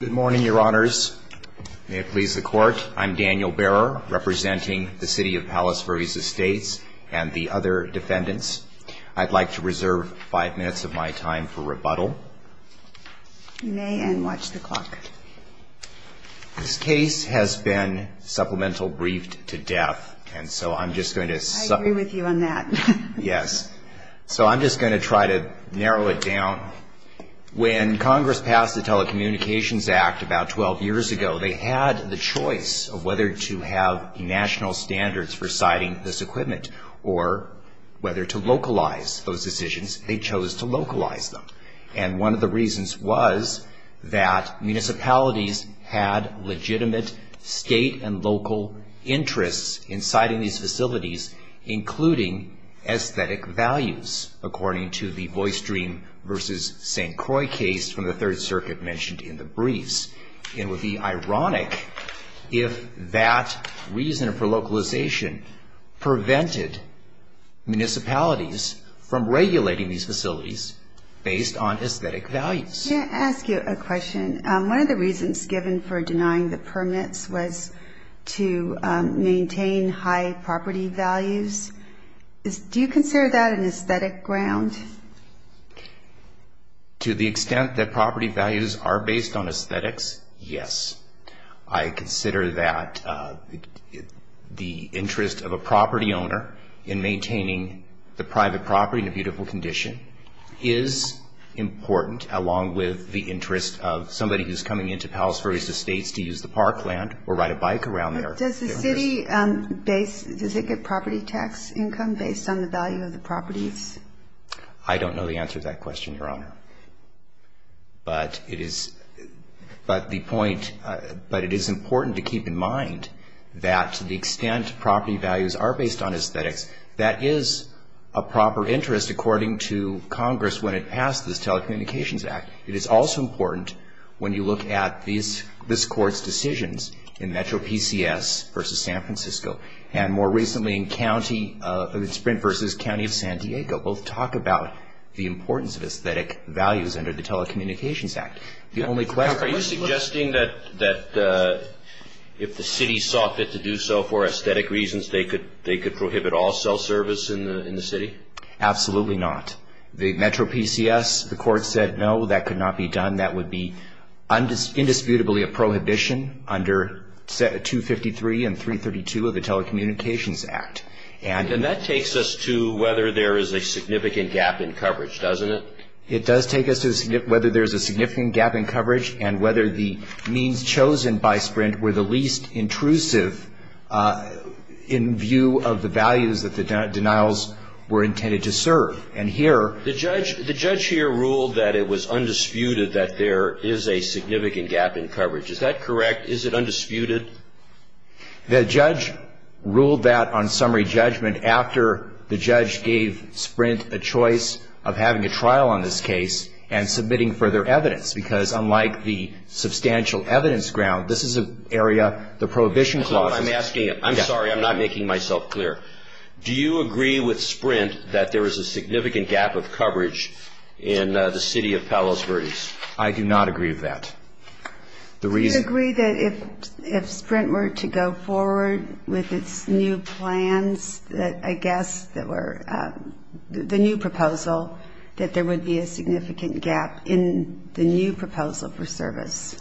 Good morning, Your Honors. May it please the Court, I'm Daniel Barrow, representing the City of Palos Verdes Estates and the other defendants. I'd like to reserve five minutes of my time for rebuttal. You may, and watch the clock. This case has been supplemental briefed to death, and so I'm just going to... I agree with you on that. Yes. So I'm just going to try to narrow it down. When Congress passed the Telecommunications Act about 12 years ago, they had the choice of whether to have national standards for siting this equipment, or whether to localize those decisions. They chose to localize them, and one of the reasons was that municipalities had legitimate state and local interests in siting these facilities, including aesthetic values, according to the Voice Dream v. St. Croix case from the Third Circuit mentioned in the briefs. It would be ironic if that reason for localization prevented municipalities from regulating these facilities based on aesthetic values. May I ask you a question? One of the reasons given for denying the permits was to maintain high property values. Do you consider that an aesthetic ground? To the extent that property values are based on aesthetics, yes. I consider that the interest of a property owner in maintaining the private property in a beautiful condition is important, along with the interest of somebody who's coming into Palos Verdes Estates to use the parkland or ride a bike around there. Does the city get property tax income based on the value of the properties? I don't know the answer to that question, Your Honor. But it is important to keep in mind that to the extent property values are based on aesthetics, that is a proper interest according to Congress when it passed this Telecommunications Act. It is also important when you look at this Court's decisions in Metro PCS v. San Francisco, and more recently in Sprint v. County of San Diego, both talk about the importance of aesthetic values under the Telecommunications Act. Are you suggesting that if the city saw fit to do so for aesthetic reasons, they could prohibit all cell service in the city? Absolutely not. The Metro PCS, the Court said no, that could not be done. That would be indisputably a prohibition under 253 and 332 of the Telecommunications Act. And that takes us to whether there is a significant gap in coverage, doesn't it? It does take us to whether there is a significant gap in coverage and whether the means chosen by Sprint were the least intrusive in view of the values that the denials were intended to serve. And here The judge here ruled that it was undisputed that there is a significant gap in coverage. Is that correct? Is it undisputed? The judge ruled that on summary judgment after the judge gave Sprint a choice of having a trial on this case and submitting further evidence, because unlike the substantial evidence ground, this is an area, the prohibition clause I'm sorry, I'm not making myself clear. Do you agree with Sprint that there is a significant gap of coverage in the city of Palos Verdes? I do not agree with that. Do you agree that if Sprint were to go forward with its new plans that I guess that were the new proposal, that there would be a significant gap in the new proposal for service?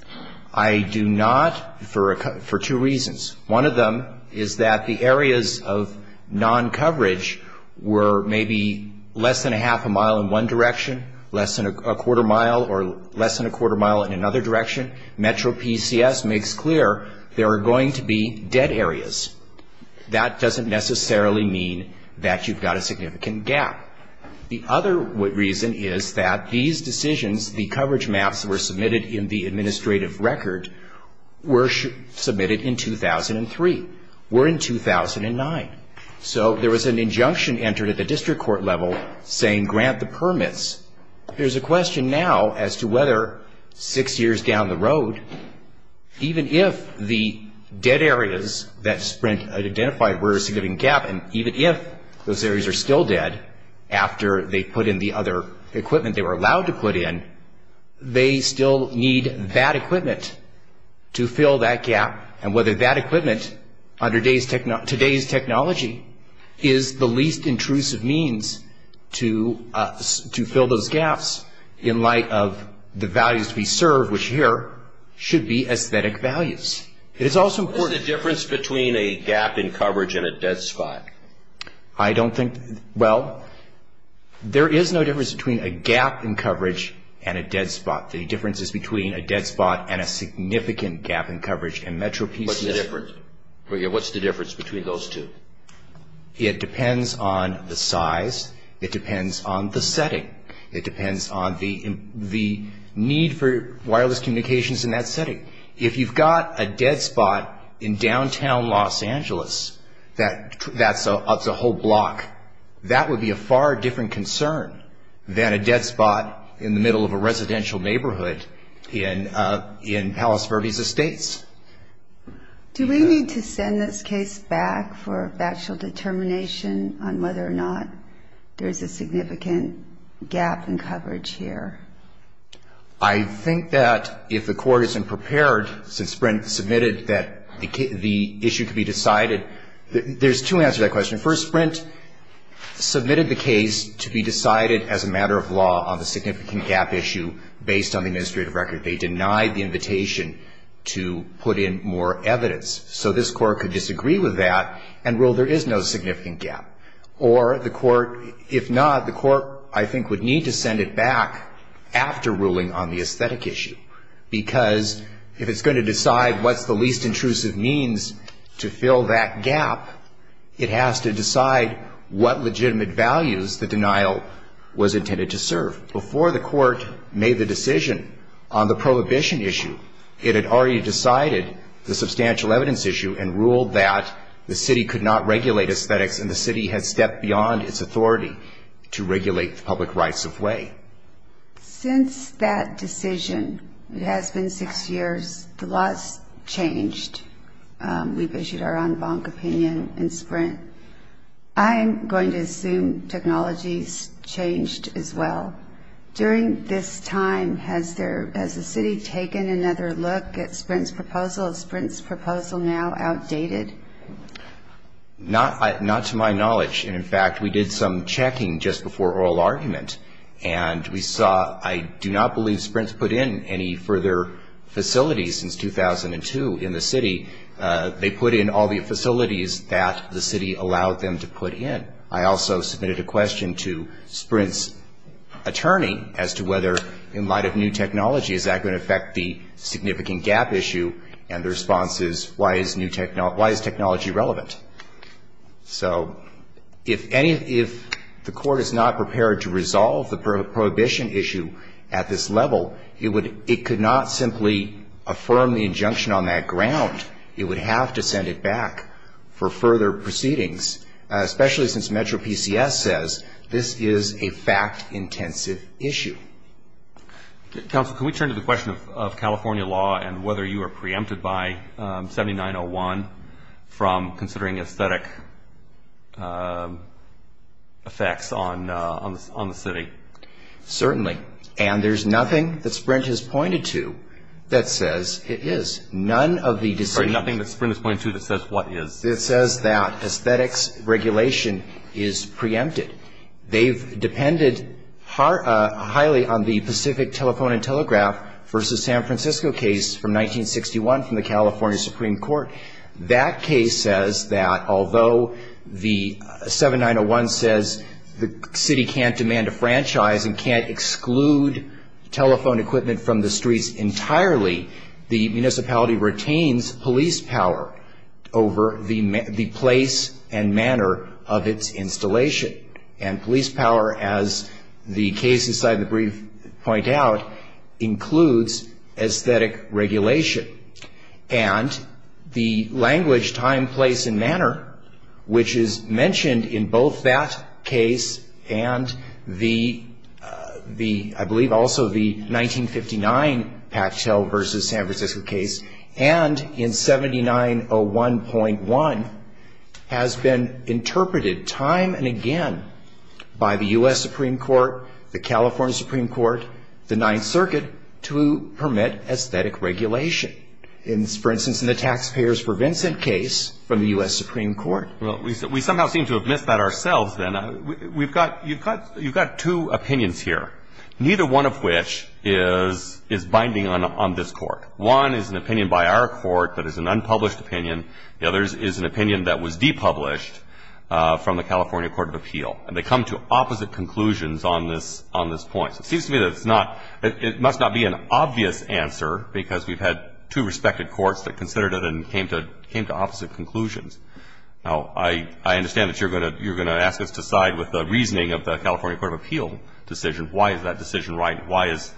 I do not for two reasons. One of them is that the areas of non-coverage were maybe less than a half a mile in one direction, less than a quarter mile or less than a quarter mile in another direction. Metro PCS makes clear there are going to be dead areas. That doesn't necessarily mean that you've got a significant gap. The other reason is that these decisions, the coverage maps that were submitted in the administrative record were submitted in 2003, were in 2009. So there was an injunction entered at the district court level saying grant the permits. There's a question now as to whether six years down the road, even if the dead areas that Sprint identified were a significant gap and even if those areas are still dead, after they put in the other equipment they were allowed to put in, they still need that equipment to fill that gap and whether that equipment under today's technology is the least intrusive means to fill those gaps in light of the values to be served, which here should be aesthetic values. What is the difference between a gap in coverage and a dead spot? I don't think, well, there is no difference between a gap in coverage and a dead spot. The difference is between a dead spot and a significant gap in coverage. What's the difference between those two? It depends on the size. It depends on the setting. It depends on the need for wireless communications in that setting. If you've got a dead spot in downtown Los Angeles, that's a whole block, that would be a far different concern than a dead spot in the middle of a residential neighborhood in Palos Verdes Estates. Do we need to send this case back for factual determination on whether or not there's a significant gap in coverage here? I think that if the Court isn't prepared, since Sprint submitted that the issue could be decided, there's two answers to that question. First, Sprint submitted the case to be decided as a matter of law on the significant gap issue based on the administrative record. They denied the invitation to put in more evidence. So this Court could disagree with that and rule there is no significant gap. Or the Court, if not, the Court, I think, would need to send it back after ruling on the aesthetic issue. Because if it's going to decide what's the least intrusive means to fill that gap, it has to decide what legitimate values the denial was intended to serve. Before the Court made the decision on the prohibition issue, it had already decided the substantial evidence issue and ruled that the city could not regulate aesthetics and the city had stepped beyond its authority to regulate the public rights of way. Since that decision, it has been six years, a lot's changed. We've issued our en banc opinion in Sprint. I'm going to assume technology's changed as well. During this time, has the city taken another look at Sprint's proposal? Is Sprint's proposal now outdated? Not to my knowledge. And, in fact, we did some checking just before oral argument, and we saw I do not believe Sprint's put in any further facilities since 2002 in the city. They put in all the facilities that the city allowed them to put in. I also submitted a question to Sprint's attorney as to whether, in light of new technology, is that going to affect the significant gap issue? And the response is, why is technology relevant? So if the Court is not prepared to resolve the prohibition issue at this level, it could not simply affirm the injunction on that ground. It would have to send it back for further proceedings, especially since MetroPCS says this is a fact-intensive issue. Counsel, can we turn to the question of California law and whether you are preempted by 7901 from considering aesthetic effects on the city? Certainly. And there's nothing that Sprint has pointed to that says it is. Specifically on the Pacific Telephone and Telegraph v. San Francisco case from 1961 from the California Supreme Court, that case says that although the 7901 says the city can't demand a franchise and can't exclude telephone equipment from the streets entirely, the municipality retains police power over the place and manner of its installation. And police power, as the cases I've briefed point out, includes aesthetic regulation. And the language, time, place, and manner, which is mentioned in both that case and the, I believe, also the 1959 Pactel v. San Francisco case, and in 7901.1, has been interpreted time and again as a matter of aesthetic regulation. And it has been done by the U.S. Supreme Court, the California Supreme Court, the Ninth Circuit, to permit aesthetic regulation. And, for instance, in the Taxpayers for Vincent case from the U.S. Supreme Court. Well, we somehow seem to have missed that ourselves then. We've got, you've got two opinions here, neither one of which is binding on this Court. One is an opinion by our Court that is an unpublished opinion. The other is an opinion that was depublished from the California Court of Appeal. And they come to opposite conclusions on this point. So it seems to me that it's not, it must not be an obvious answer because we've had two respected courts that considered it and came to opposite conclusions. Now, I understand that you're going to ask us to side with the reasoning of the California Court of Appeal decision. Why is that decision right? Why is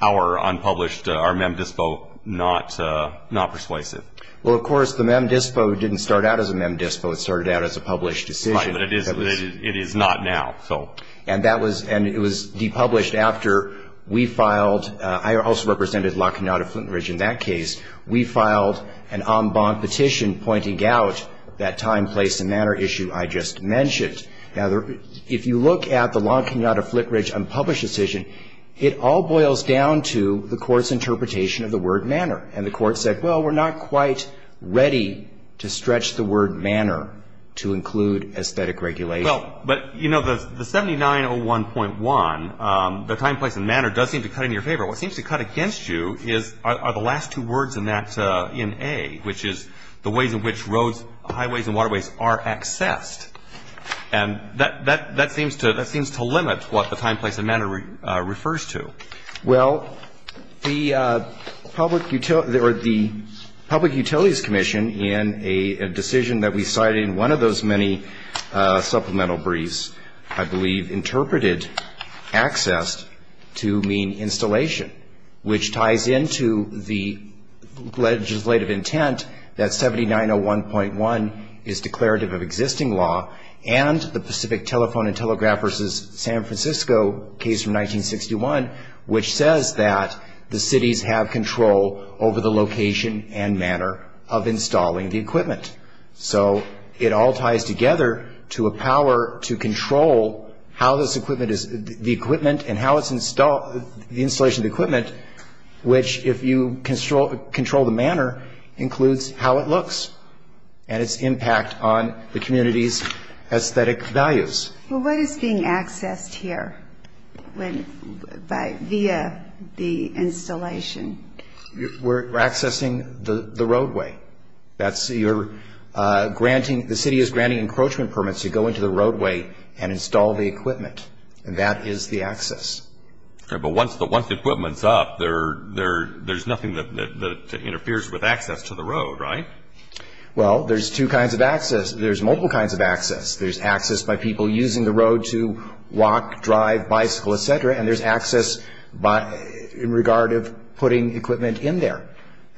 our unpublished, our Mem Dispo not persuasive? Well, of course, the Mem Dispo didn't start out as a Mem Dispo. It started out as a published decision. Right, but it is not now, so. And that was, and it was depublished after we filed, I also represented La Cunada-Flintridge in that case. We filed an en banc petition pointing out that time, place and manner issue I just mentioned. Now, if you look at the La Cunada-Flintridge unpublished decision, it all boils down to the Court's interpretation of the word manner. And the Court said, well, we're not quite ready to stretch the word manner to include aesthetic regulation. Well, but, you know, the 7901.1, the time, place and manner does seem to cut in your favor. What seems to cut against you are the last two words in that, in A, which is the ways in which roads, highways and waterways are accessed. And that seems to limit what the time, place and manner refers to. Well, the Public Utilities Commission in a decision that we cited in one of those many supplemental briefs, I believe, interpreted access to mean installation, which ties into the legislative intent that 7901.1 is declarative of existing law, and the Pacific Telephone and Telegraph versus San Francisco case from 1961, which says that the cities have control over the location and equipment, so it all ties together to a power to control how this equipment is, the equipment and how it's installed, the installation of the equipment, which, if you control the manner, includes how it looks and its impact on the community's aesthetic values. Well, what is being accessed here via the installation? We're accessing the roadway. The city is granting encroachment permits to go into the roadway and install the equipment, and that is the access. But once the equipment's up, there's nothing that interferes with access to the road, right? Well, there's two kinds of access. There's multiple kinds of access. There's access by people using the road to walk, drive, bicycle, et cetera, and there's access in regard of putting equipment in there.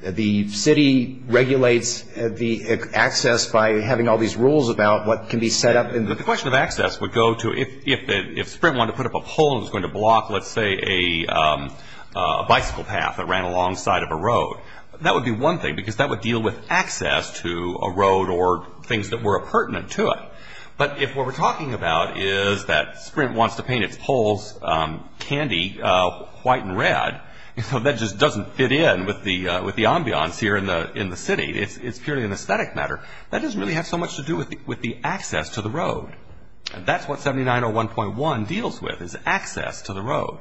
The city regulates the access by having all these rules about what can be set up. But the question of access would go to if Sprint wanted to put up a pole and it was going to block, let's say, a bicycle path that ran alongside of a road, that would be one thing, because that would deal with access to a road or things that were pertinent to it. But if what we're talking about is that Sprint wants to paint its poles candy white and red, that just doesn't fit in with the ambiance here in the city. It's purely an aesthetic matter. That doesn't really have so much to do with the access to the road. That's what 7901.1 deals with, is access to the road.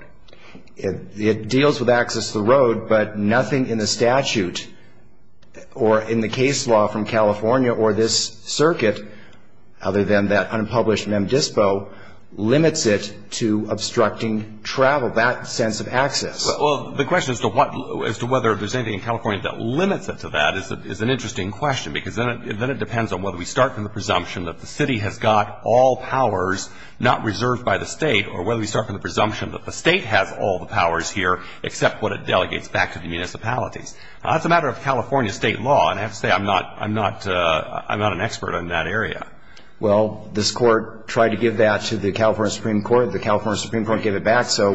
It deals with access to the road, but nothing in the statute or in the case law from California or this circuit, other than that unpublished Mem Dispo, limits it to obstructing travel, that sense of access. Well, the question as to whether there's anything in California that limits it to that is an interesting question, because then it depends on whether we start from the presumption that the city has got all powers not reserved by the state, or whether we start from the presumption that the state has all the powers here, except what it delegates back to the municipalities. That's a matter of California state law, and I have to say I'm not an expert on that area. Well, this Court tried to give that to the California Supreme Court. The California Supreme Court gave it back, so...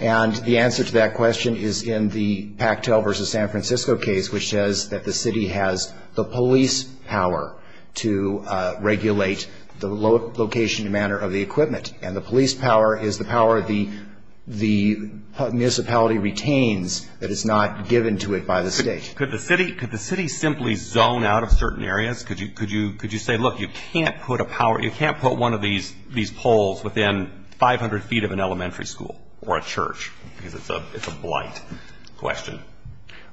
And the answer to that question is in the Pactel v. San Francisco case, which says that the city has the police power to regulate the location and manner of the equipment, and the police power is the power the municipality retains, that it's not given to it by the state. Could the city simply zone out of certain areas? Could you say, look, you can't put a power, you can't put one of these poles within 500 feet of an elementary school or a church, because it's a blight question?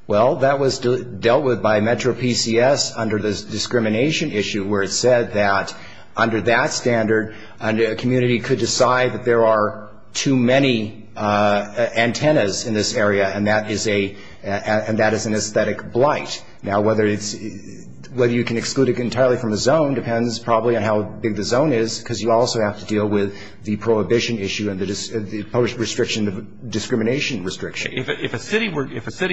Well, that was dealt with by Metro PCS under the discrimination issue, where it said that under that standard, a community could decide that there are too many antennas in this area, and that is an aesthetic blight. Now, whether you can exclude it entirely from the zone depends probably on how big the zone is, because you also have to deal with the prohibition issue and the post-restriction discrimination restriction. If a city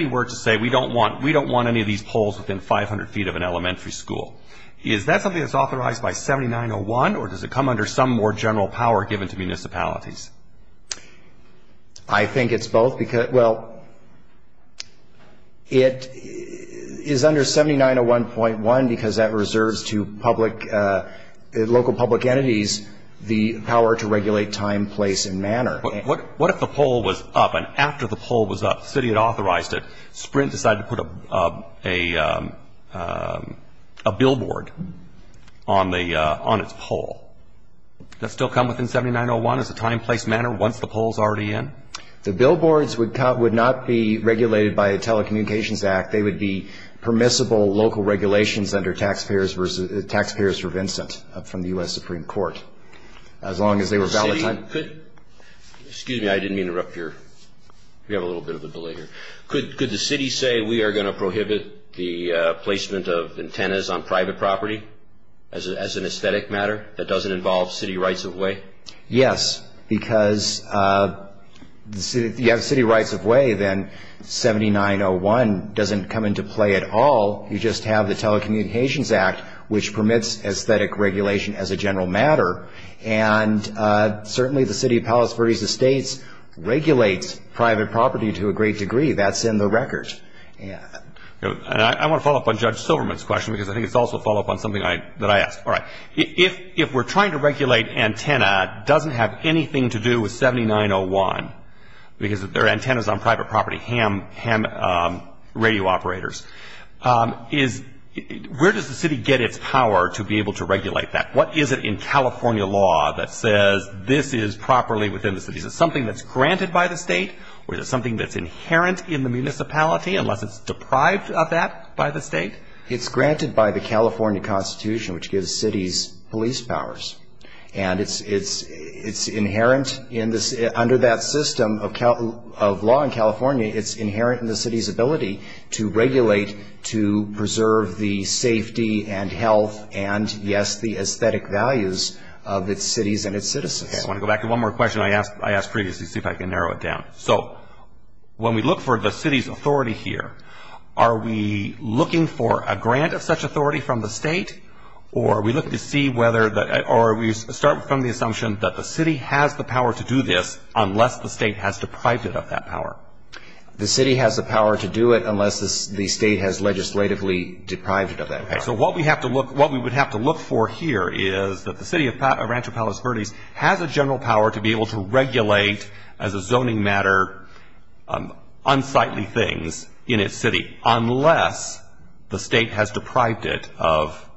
were to say, we don't want any of these poles within 500 feet of an elementary school, is that something that's authorized by 7901, or does it come under some more general power given to municipalities? I think it's both, because, well, it is under 7901.1, because that reserves to local public entities the power to regulate time, place, and manner. What if the pole was up, and after the pole was up, the city had authorized it, a billboard on its pole? Does that still come within 7901, as a time, place, manner, once the pole is already in? The billboards would not be regulated by a telecommunications act. They would be permissible local regulations under Taxpayers for Vincent, from the U.S. Supreme Court, as long as they were valid. Excuse me, I didn't mean to interrupt your... We have a little bit of a delay here. Could the city say, we are going to prohibit the placement of antennas on private property, as an aesthetic matter, that doesn't involve city rights of way? Yes, because you have city rights of way, then 7901 doesn't come into play at all. You just have the telecommunications act, which permits aesthetic regulation as a general matter, and certainly the city of Palos Verdes Estates regulates private property to a great degree. That's in the record. I want to follow up on Judge Silverman's question, because I think it's also a follow-up on something that I asked. If we're trying to regulate antenna, it doesn't have anything to do with 7901, because their antenna is on private property, ham radio operators. Where does the city get its power to be able to regulate that? What is it in California law that says this is properly within the city? Is it something that's granted by the state, or is it something that's inherent in the municipality, unless it's deprived of that by the state? It's granted by the California Constitution, which gives cities police powers. And it's inherent under that system of law in California. It's inherent in the city's ability to regulate, to preserve the safety and health and, yes, the aesthetic values of its cities and its citizens. I want to go back to one more question I asked previously, see if I can narrow it down. So when we look for the city's authority here, are we looking for a grant of such authority from the state, or are we starting from the assumption that the city has the power to do this unless the state has deprived it of that power? The city has the power to do it unless the state has legislatively deprived it of that power. So what we would have to look for here is that the city of Rancho Palos Verdes has a general power to be able to regulate, as a zoning matter, unsightly things in its city unless the state has deprived it of,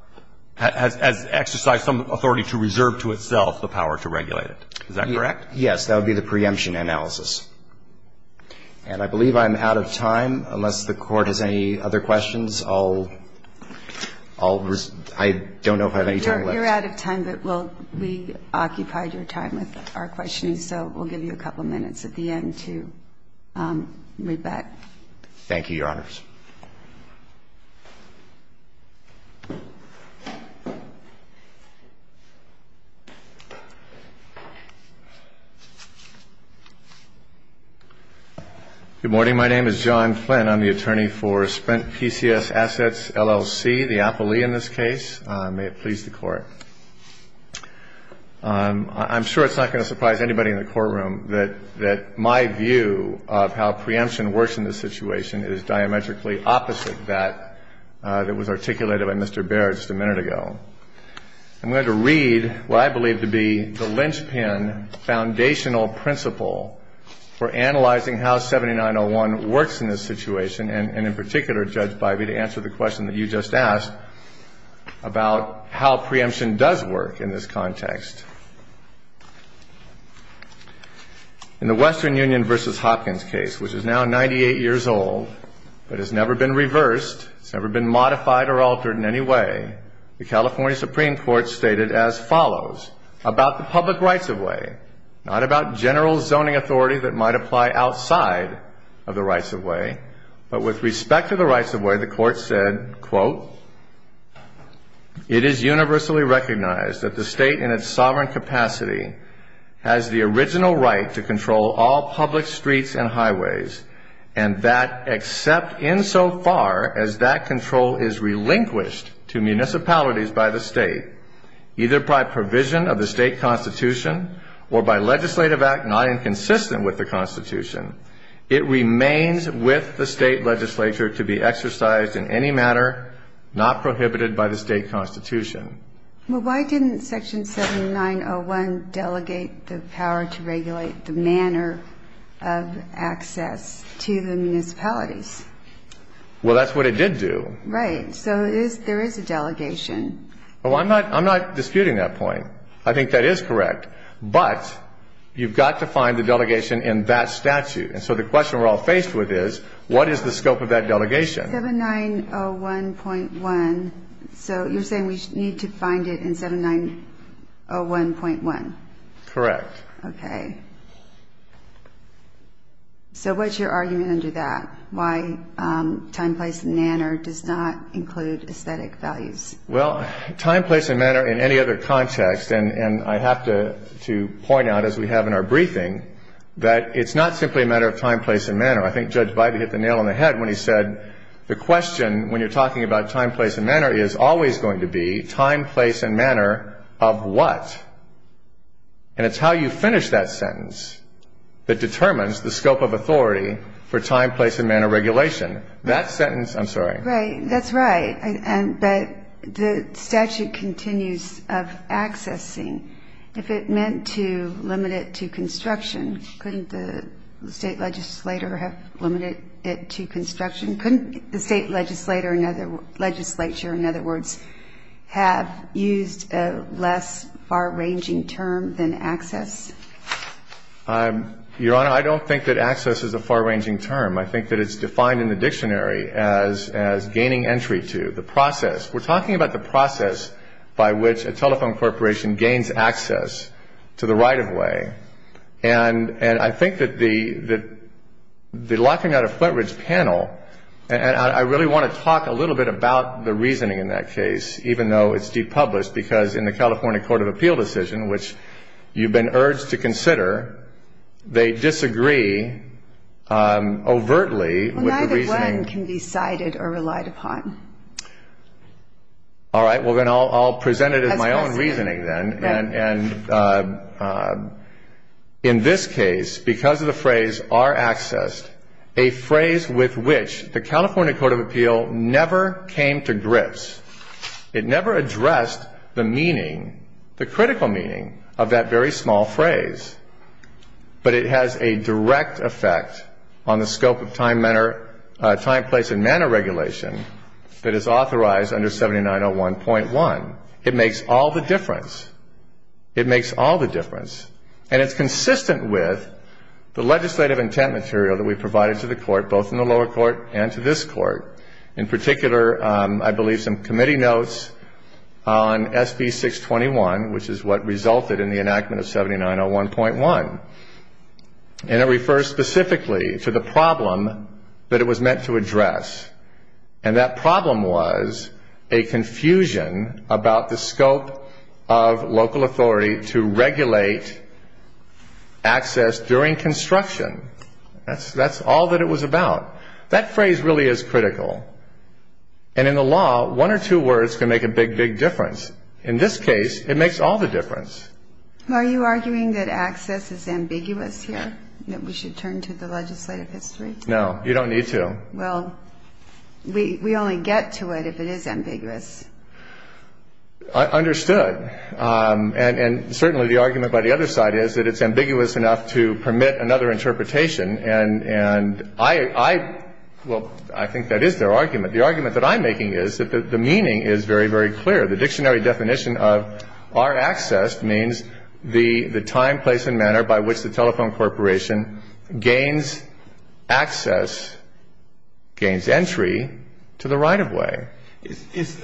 has exercised some authority to reserve to itself the power to regulate it. Is that correct? Yes, that would be the preemption analysis. And I believe I'm out of time. Unless the Court has any other questions, I'll resume. I don't know if I have any time left. You're out of time, but we occupied your time with our questions, so we'll give you a couple minutes at the end to read back. Thank you, Your Honors. Good morning. My name is John Flynn. I'm the attorney for Sprint PCS Assets, LLC, the appellee in this case. May it please the Court. I'm sure it's not going to surprise anybody in the courtroom that my view of how preemption works in this situation is diametrically different from the view of Judge Bivey. I'm here today for analyzing how 7901 works in this situation, and in particular, Judge Bivey, to answer the question that you just asked about how preemption does work in this context. In the Western Union v. Hopkins case, which is now 98 years old but has never been reversed, has never been modified or altered in any way, nor has it been modified or altered in any way that might apply outside of the rights-of-way. But with respect to the rights-of-way, the Court said, quote, It is universally recognized that the State, in its sovereign capacity, has the original right to control all public streets and highways, and that except insofar as that control is relinquished to municipalities by the State, either by provision of the State Constitution or by legislative act not inconsistent with the Constitution, it remains with the State legislature to be exercised in any manner not prohibited by the State Constitution. Well, why didn't Section 7901 delegate the power to regulate the manner of access to the municipalities? Well, that's what it did do. Right. So there is a delegation. Well, I'm not disputing that point. I think that is correct. But you've got to find the delegation in that statute. And so the question we're all faced with is, what is the scope of that delegation? 7901.1. So you're saying we need to find it in 7901.1? Correct. Okay. So what's your argument under that, why time, place, and manner does not include aesthetic values? Well, time, place, and manner in any other context, and I have to point out, as we have in our briefing, that it's not simply a matter of time, place, and manner. I think Judge Bybee hit the nail on the head when he said the question, when you're talking about time, place, and manner, is always going to be time, place, and manner of what? And it's how you finish that sentence that determines the scope of authority for time, place, and manner regulation. That sentence — I'm sorry. Right. That's right. But the statute continues of accessing. If it meant to limit it to construction, couldn't the state legislator have limited it to construction? Couldn't the state legislature, in other words, have used a less far-ranging term than access? Your Honor, I don't think that access is a far-ranging term. I think that it's defined in the dictionary as gaining entry to the process. We're talking about the process by which a telephone corporation gains access to the right-of-way. And I think that the locking out of Flintridge panel — and I really want to talk a little bit about the reasoning in that case, even though it's de-published, because in the California Court of Appeal decision, which you've been urged to consider, they disagree overtly with the reasoning — Well, neither when can be cited or relied upon. All right. Well, then I'll present it as my own reasoning, then. And in this case, because of the phrase, are accessed, a phrase with which the California Court of Appeal never came to grips. It never addressed the meaning, the critical meaning of that very small phrase. But it has a direct effect on the scope of time, place, and manner regulation that is authorized under 7901.1. It makes all the difference. It makes all the difference. And it's consistent with the legislative intent material that we provided to the Court, both in the lower court and to this Court. In particular, I believe some committee notes on SB 621, which is what resulted in the enactment of 7901.1. And it refers specifically to the problem that it was meant to address. And that problem was a confusion about the scope of local authority to regulate access during construction. That's all that it was about. That phrase really is critical. And in the law, one or two words can make a big, big difference. In this case, it makes all the difference. Are you arguing that access is ambiguous here, that we should turn to the legislative history? No, you don't need to. Well, we only get to it if it is ambiguous. Understood. And certainly the argument by the other side is that it's ambiguous enough to permit another interpretation. And I — well, I think that is their argument. The argument that I'm making is that the meaning is very, very clear. The dictionary definition of our access means the time, place, and manner by which the telephone corporation gains access, gains entry to the right-of-way. Is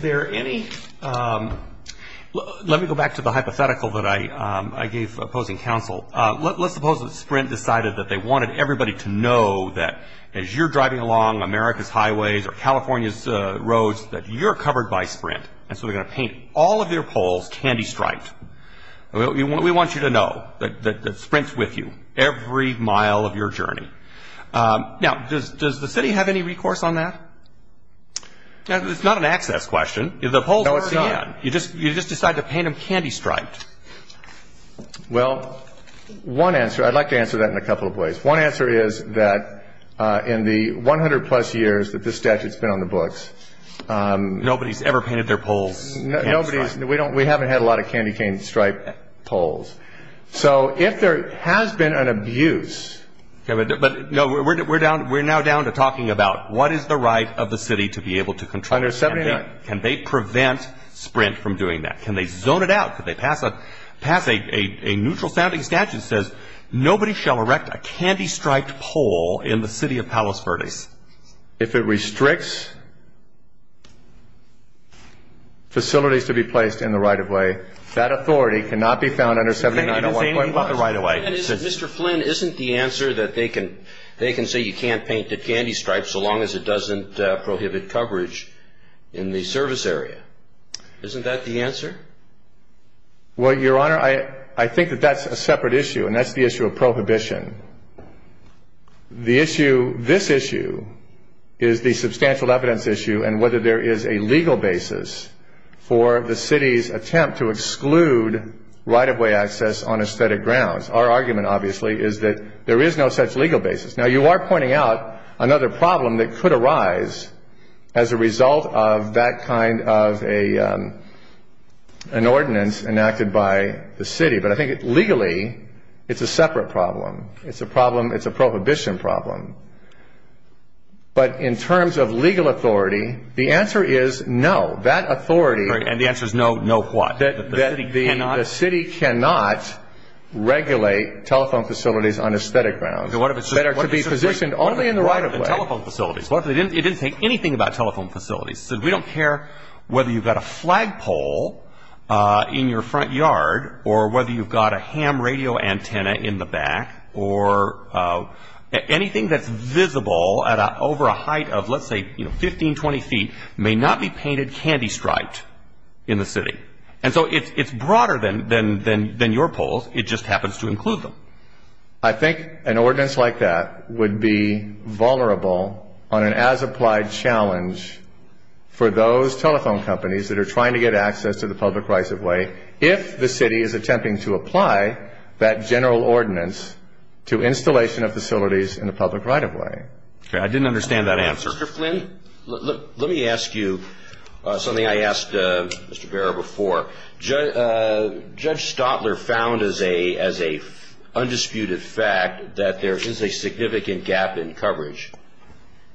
there any — let me go back to the hypothetical that I gave opposing counsel. Let's suppose that Sprint decided that they wanted everybody to know that as you're driving along America's highways or California's roads, that you're covered by Sprint. And so they're going to paint all of their poles candy-striped. We want you to know that Sprint's with you every mile of your journey. Now, does the city have any recourse on that? It's not an access question. Well, one answer — I'd like to answer that in a couple of ways. One answer is that in the 100-plus years that this statute's been on the books — the city has not painted candy-striped poles. So if there has been an abuse — But, no, we're now down to talking about what is the right of the city to be able to control — Under 79. Can they prevent Sprint from doing that? Can they zone it out? Can they pass a neutral-sounding statute that says, Nobody shall erect a candy-striped pole in the city of Palos Verdes. If it restricts facilities to be placed in the right-of-way, that authority cannot be found under 79.1. Mr. Flynn, isn't the answer that they can say you can't paint it candy-striped so long as it doesn't prohibit coverage in the service area? Isn't that the answer? Well, Your Honor, I think that that's a separate issue, and that's the issue of prohibition. This issue is the substantial evidence issue, and whether there is a legal basis for the city's attempt to exclude right-of-way access on aesthetic grounds. Our argument, obviously, is that there is no such legal basis. Now, you are pointing out another problem that could arise as a result of that kind of an ordinance enacted by the city, but I think legally it's a separate problem. It's a prohibition problem. But in terms of legal authority, the answer is no. And the answer is no what? That the city cannot regulate telephone facilities on aesthetic grounds. Better to be positioned only in the right-of-way. It didn't say anything about telephone facilities. We don't care whether you've got a flagpole in your front yard, or whether you've got a ham radio antenna in the back, or anything that's visible over a height of, let's say, 15, 20 feet may not be painted candy-striped in the city. And so it's broader than your polls. It just happens to include them. I think an ordinance like that would be vulnerable on an as-applied challenge for those telephone companies that are trying to get access to the public right-of-way if the city is attempting to apply that general ordinance to installation of facilities in the public right-of-way. I didn't understand that answer. Mr. Flynn, let me ask you something I asked Mr. Barrow before. Judge Stotler found as a undisputed fact that there is a significant gap in coverage.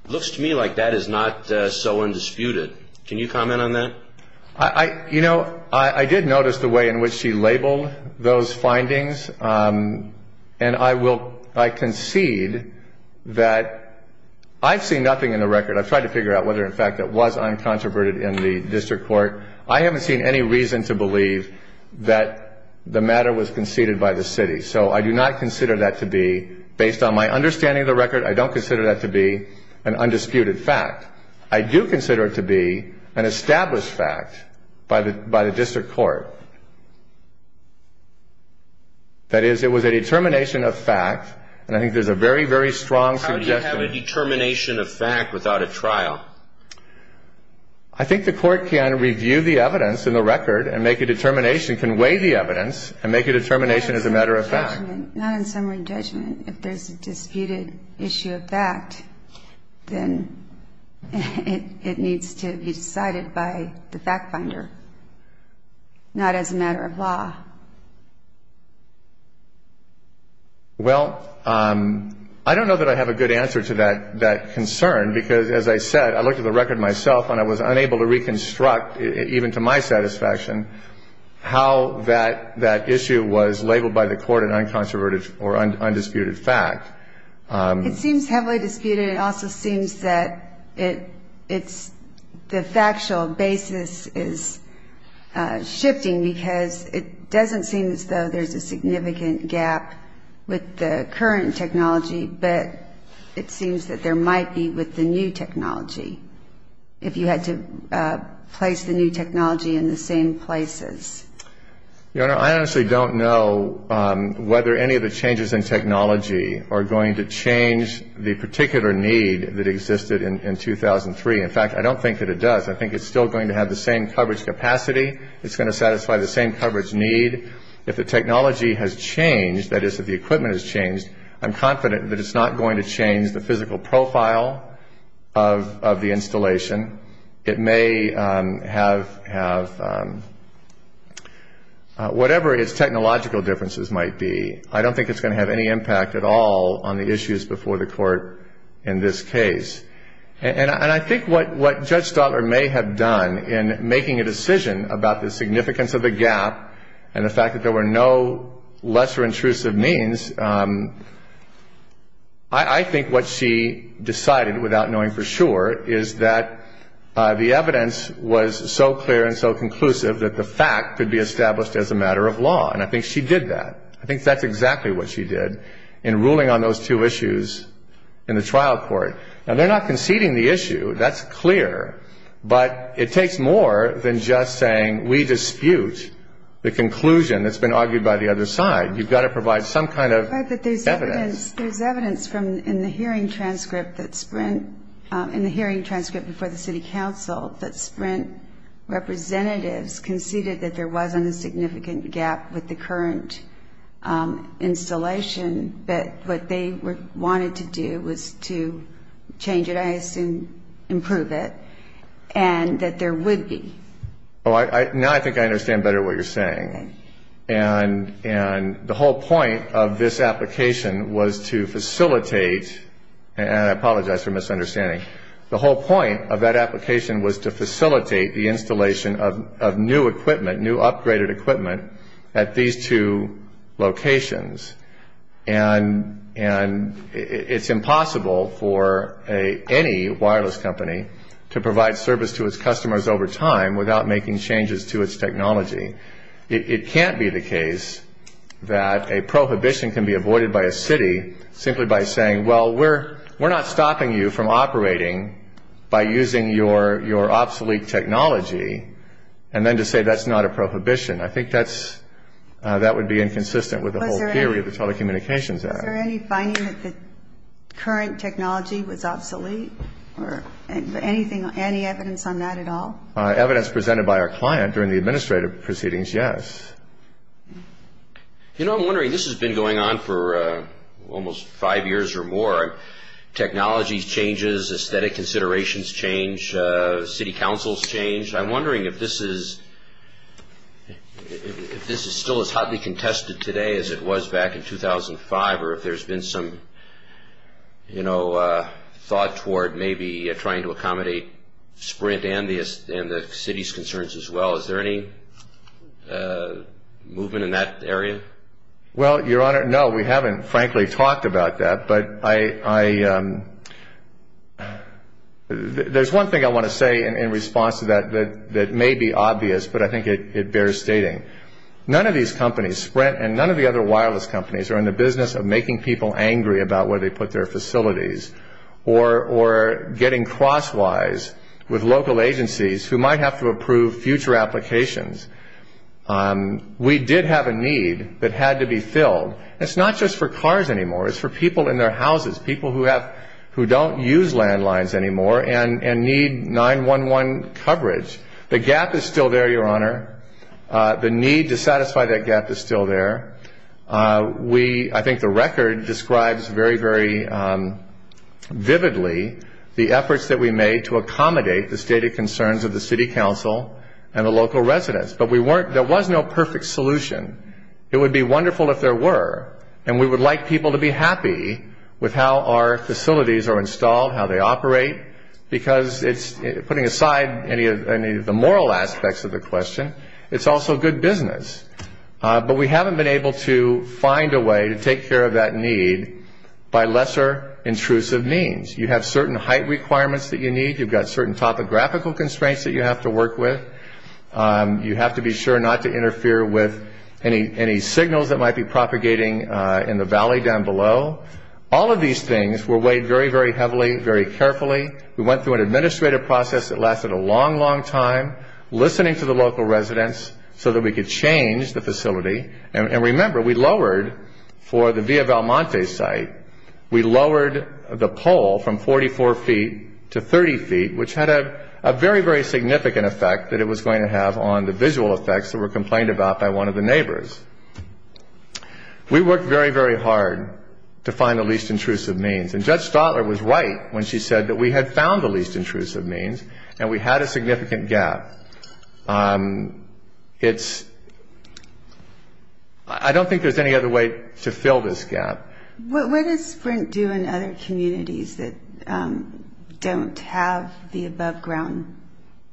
Looks to me like that is not so undisputed. Can you comment on that? I did notice the way in which she labeled those findings, and I concede that I've seen nothing in the record. I've tried to figure out whether, in fact, it was uncontroverted in the district court. I haven't seen any reason to believe that the matter was conceded by the city. So I do not consider that to be, based on my understanding of the record, I don't consider that to be an undisputed fact. I do consider it to be an established fact by the district court. That is, it was a determination of fact, and I think there's a very, very strong suggestion. How do you have a determination of fact without a trial? I think the court can review the evidence in the record and make a determination, can weigh the evidence and make a determination as a matter of fact. If there's a disputed issue of fact, then it needs to be decided by the fact finder, not as a matter of law. Well, I don't know that I have a good answer to that concern because, as I said, I looked at the record myself and I was unable to reconstruct, even to my satisfaction, how that issue was labeled by the court an uncontroverted or undisputed fact. It seems heavily disputed. It also seems that the factual basis is shifting because it doesn't seem as though there's a significant gap with the current technology, but it seems that there might be with the new technology, if you had to place the new technology in the same places. Your Honor, I honestly don't know whether any of the changes in technology are going to change the particular need that existed in 2003. In fact, I don't think that it does. I think it's still going to have the same coverage capacity. It's going to satisfy the same coverage need. If the technology has changed, that is, if the equipment has changed, I'm confident that it's not going to change the physical profile of the installation. It may have whatever its technological differences might be. I don't think it's going to have any impact at all on the issues before the court in this case. And I think what Judge Stotler may have done in making a decision about the significance of the gap and the fact that there were no lesser intrusive means, I think what she decided, without knowing for sure, is that the evidence was so clear and so conclusive that the fact could be established as a matter of law, and I think she did that. I think that's exactly what she did in ruling on those two issues in the trial court. Now, they're not conceding the issue. That's clear, but it takes more than just saying, we dispute the conclusion that's been argued by the other side. You've got to provide some kind of evidence. There's evidence in the hearing transcript before the city council that Sprint representatives conceded that there wasn't a significant gap with the current installation, but what they wanted to do was to change it, I assume improve it, and that there would be. Now I think I understand better what you're saying. And the whole point of this application was to facilitate, and I apologize for misunderstanding, the whole point of that application was to facilitate the installation of new equipment, new upgraded equipment at these two locations. And it's impossible for any wireless company to provide service to its customers over time without making changes to its technology. It can't be the case that a prohibition can be avoided by a city simply by saying, well, we're not stopping you from operating by using your obsolete technology, and then to say that's not a prohibition. I think that would be inconsistent with the whole theory of the telecommunications act. Is there any finding that the current technology was obsolete or anything, any evidence on that at all? Evidence presented by our client during the administrative proceedings, yes. You know, I'm wondering, this has been going on for almost five years or more. Technology changes, aesthetic considerations change, city councils change. I'm wondering if this is still as hotly contested today as it was back in 2005 or if there's been some, you know, thought toward maybe trying to accommodate Sprint and the city's concerns as well. Is there any movement in that area? Well, Your Honor, no, we haven't, frankly, talked about that. But there's one thing I want to say in response to that that may be obvious, but I think it bears stating. None of these companies, Sprint and none of the other wireless companies, are in the business of making people angry about where they put their facilities or getting crosswise with local agencies who might have to approve future applications. We did have a need that had to be filled. It's not just for cars anymore. It's for people in their houses, people who don't use landlines anymore and need 911 coverage. The gap is still there, Your Honor. The need to satisfy that gap is still there. I think the record describes very, very vividly the efforts that we made to accommodate the stated concerns of the city council and the local residents. But there was no perfect solution. It would be wonderful if there were, and we would like people to be happy with how our facilities are installed, how they operate, because putting aside any of the moral aspects of the question, it's also good business. But we haven't been able to find a way to take care of that need by lesser intrusive means. You have certain height requirements that you need. You've got certain topographical constraints that you have to work with. You have to be sure not to interfere with any signals that might be propagating in the valley down below. All of these things were weighed very, very heavily, very carefully. We went through an administrative process that lasted a long, long time, listening to the local residents so that we could change the facility. And remember, we lowered for the Via Valmonte site, we lowered the pole from 44 feet to 30 feet, which had a very, very significant effect that it was going to have on the visual effects that were complained about by one of the neighbors. We worked very, very hard to find the least intrusive means. And Judge Stotler was right when she said that we had found the least intrusive means and we had a significant gap. I don't think there's any other way to fill this gap. What does Sprint do in other communities that don't have the above-ground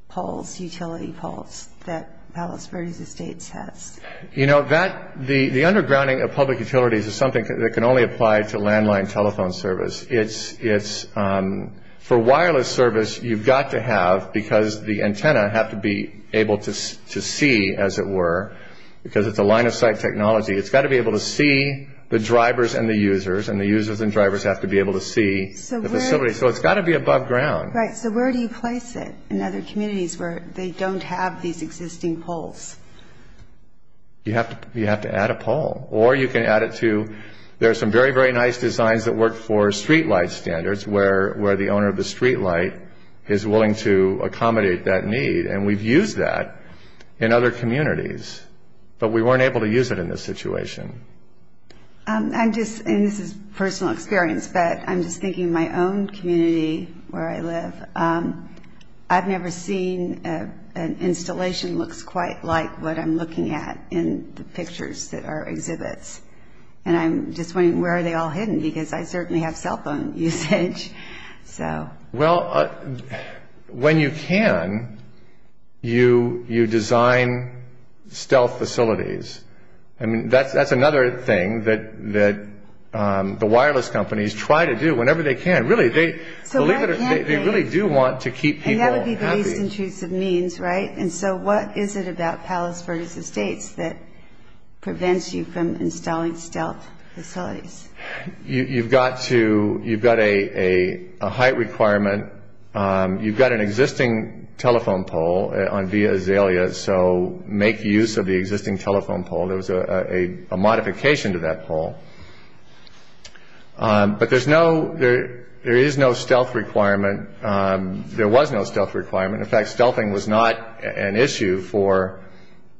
poles, utility poles that Palos Verdes Estates has? The undergrounding of public utilities is something that can only apply to landline telephone service. For wireless service, you've got to have, because the antennae have to be able to see, as it were, because it's a line-of-sight technology, it's got to be able to see the drivers and the users, and the users and drivers have to be able to see the facility. So it's got to be above ground. Right, so where do you place it in other communities where they don't have these existing poles? You have to add a pole. Or you can add it to – there are some very, very nice designs that work for streetlight standards where the owner of the streetlight is willing to accommodate that need, and we've used that in other communities, but we weren't able to use it in this situation. I'm just – and this is personal experience, but I'm just thinking of my own community where I live. I've never seen an installation that looks quite like what I'm looking at in the pictures that are exhibits, and I'm just wondering where are they all hidden, because I certainly have cell phone usage. Well, when you can, you design stealth facilities. I mean, that's another thing that the wireless companies try to do whenever they can. Really, they really do want to keep people happy. And that would be the least intrusive means, right? And so what is it about Palos Verdes Estates that prevents you from installing stealth facilities? You've got to – you've got a height requirement. You've got an existing telephone pole on Via Azalea, so make use of the existing telephone pole. There was a modification to that pole. But there's no – there is no stealth requirement. There was no stealth requirement. In fact, stealthing was not an issue for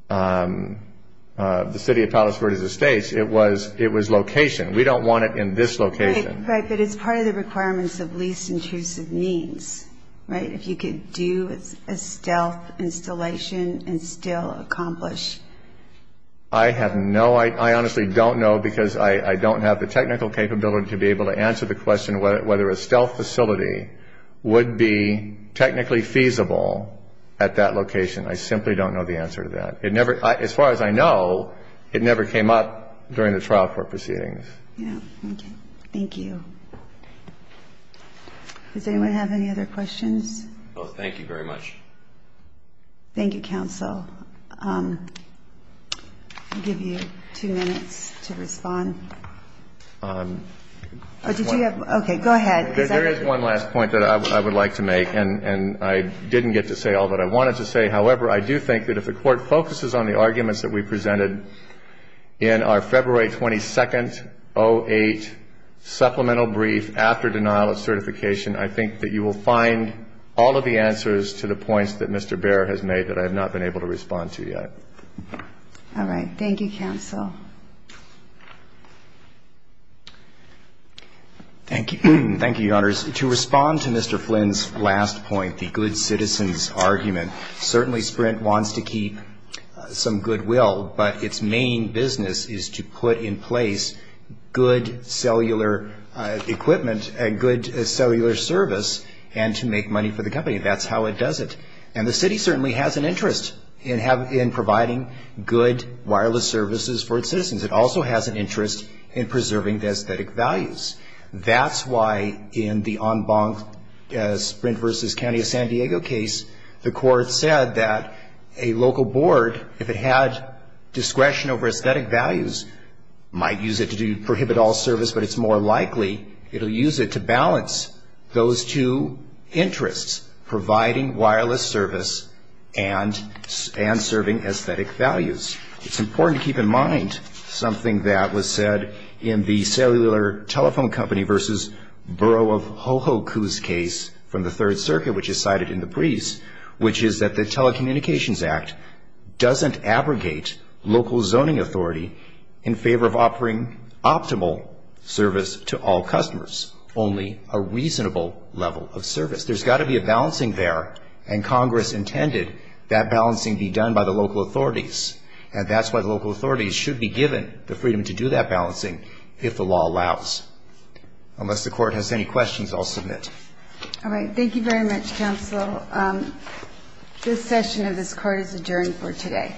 the city of Palos Verdes Estates. It was location. We don't want it in this location. Right, but it's part of the requirements of least intrusive means, right, if you could do a stealth installation and still accomplish. I have no – I honestly don't know, because I don't have the technical capability to be able to answer the question whether a stealth facility would be technically feasible at that location. I simply don't know the answer to that. It never – as far as I know, it never came up during the trial court proceedings. Yeah, okay. Thank you. Does anyone have any other questions? No, thank you very much. Thank you, counsel. I'll give you two minutes to respond. Did you have – okay, go ahead. There is one last point that I would like to make, and I didn't get to say all that I wanted to say. However, I do think that if the Court focuses on the arguments that we presented in our February 22nd, 08 supplemental brief after denial of certification, I think that you will find all of the answers to the points that Mr. Baer has made that I have not been able to respond to yet. All right. Thank you, counsel. Thank you. Thank you, Your Honors. To respond to Mr. Flynn's last point, the good citizens argument, certainly Sprint wants to keep some goodwill, but its main business is to put in place good cellular equipment and good cellular service and to make money for the company. That's how it does it. And the city certainly has an interest in providing good wireless services for its citizens. It also has an interest in preserving the aesthetic values. That's why in the En Banc Sprint v. County of San Diego case, the Court said that a local board, if it had discretion over aesthetic values, might use it to prohibit all service, but it's more likely it will use it to balance those two interests, providing wireless service and serving aesthetic values. It's important to keep in mind something that was said in the Cellular Telephone Company v. Borough of Hohoku's case from the Third Circuit, which is cited in the briefs, which is that the Telecommunications Act doesn't abrogate local zoning authority in favor of offering optimal service to all customers, only a reasonable level of service. There's got to be a balancing there, and Congress intended that balancing be done by the local authorities, and that's why the local authorities should be given the freedom to do that balancing if the law allows. Unless the Court has any questions, I'll submit. All right. Thank you very much, Counsel. This session of this Court is adjourned for today.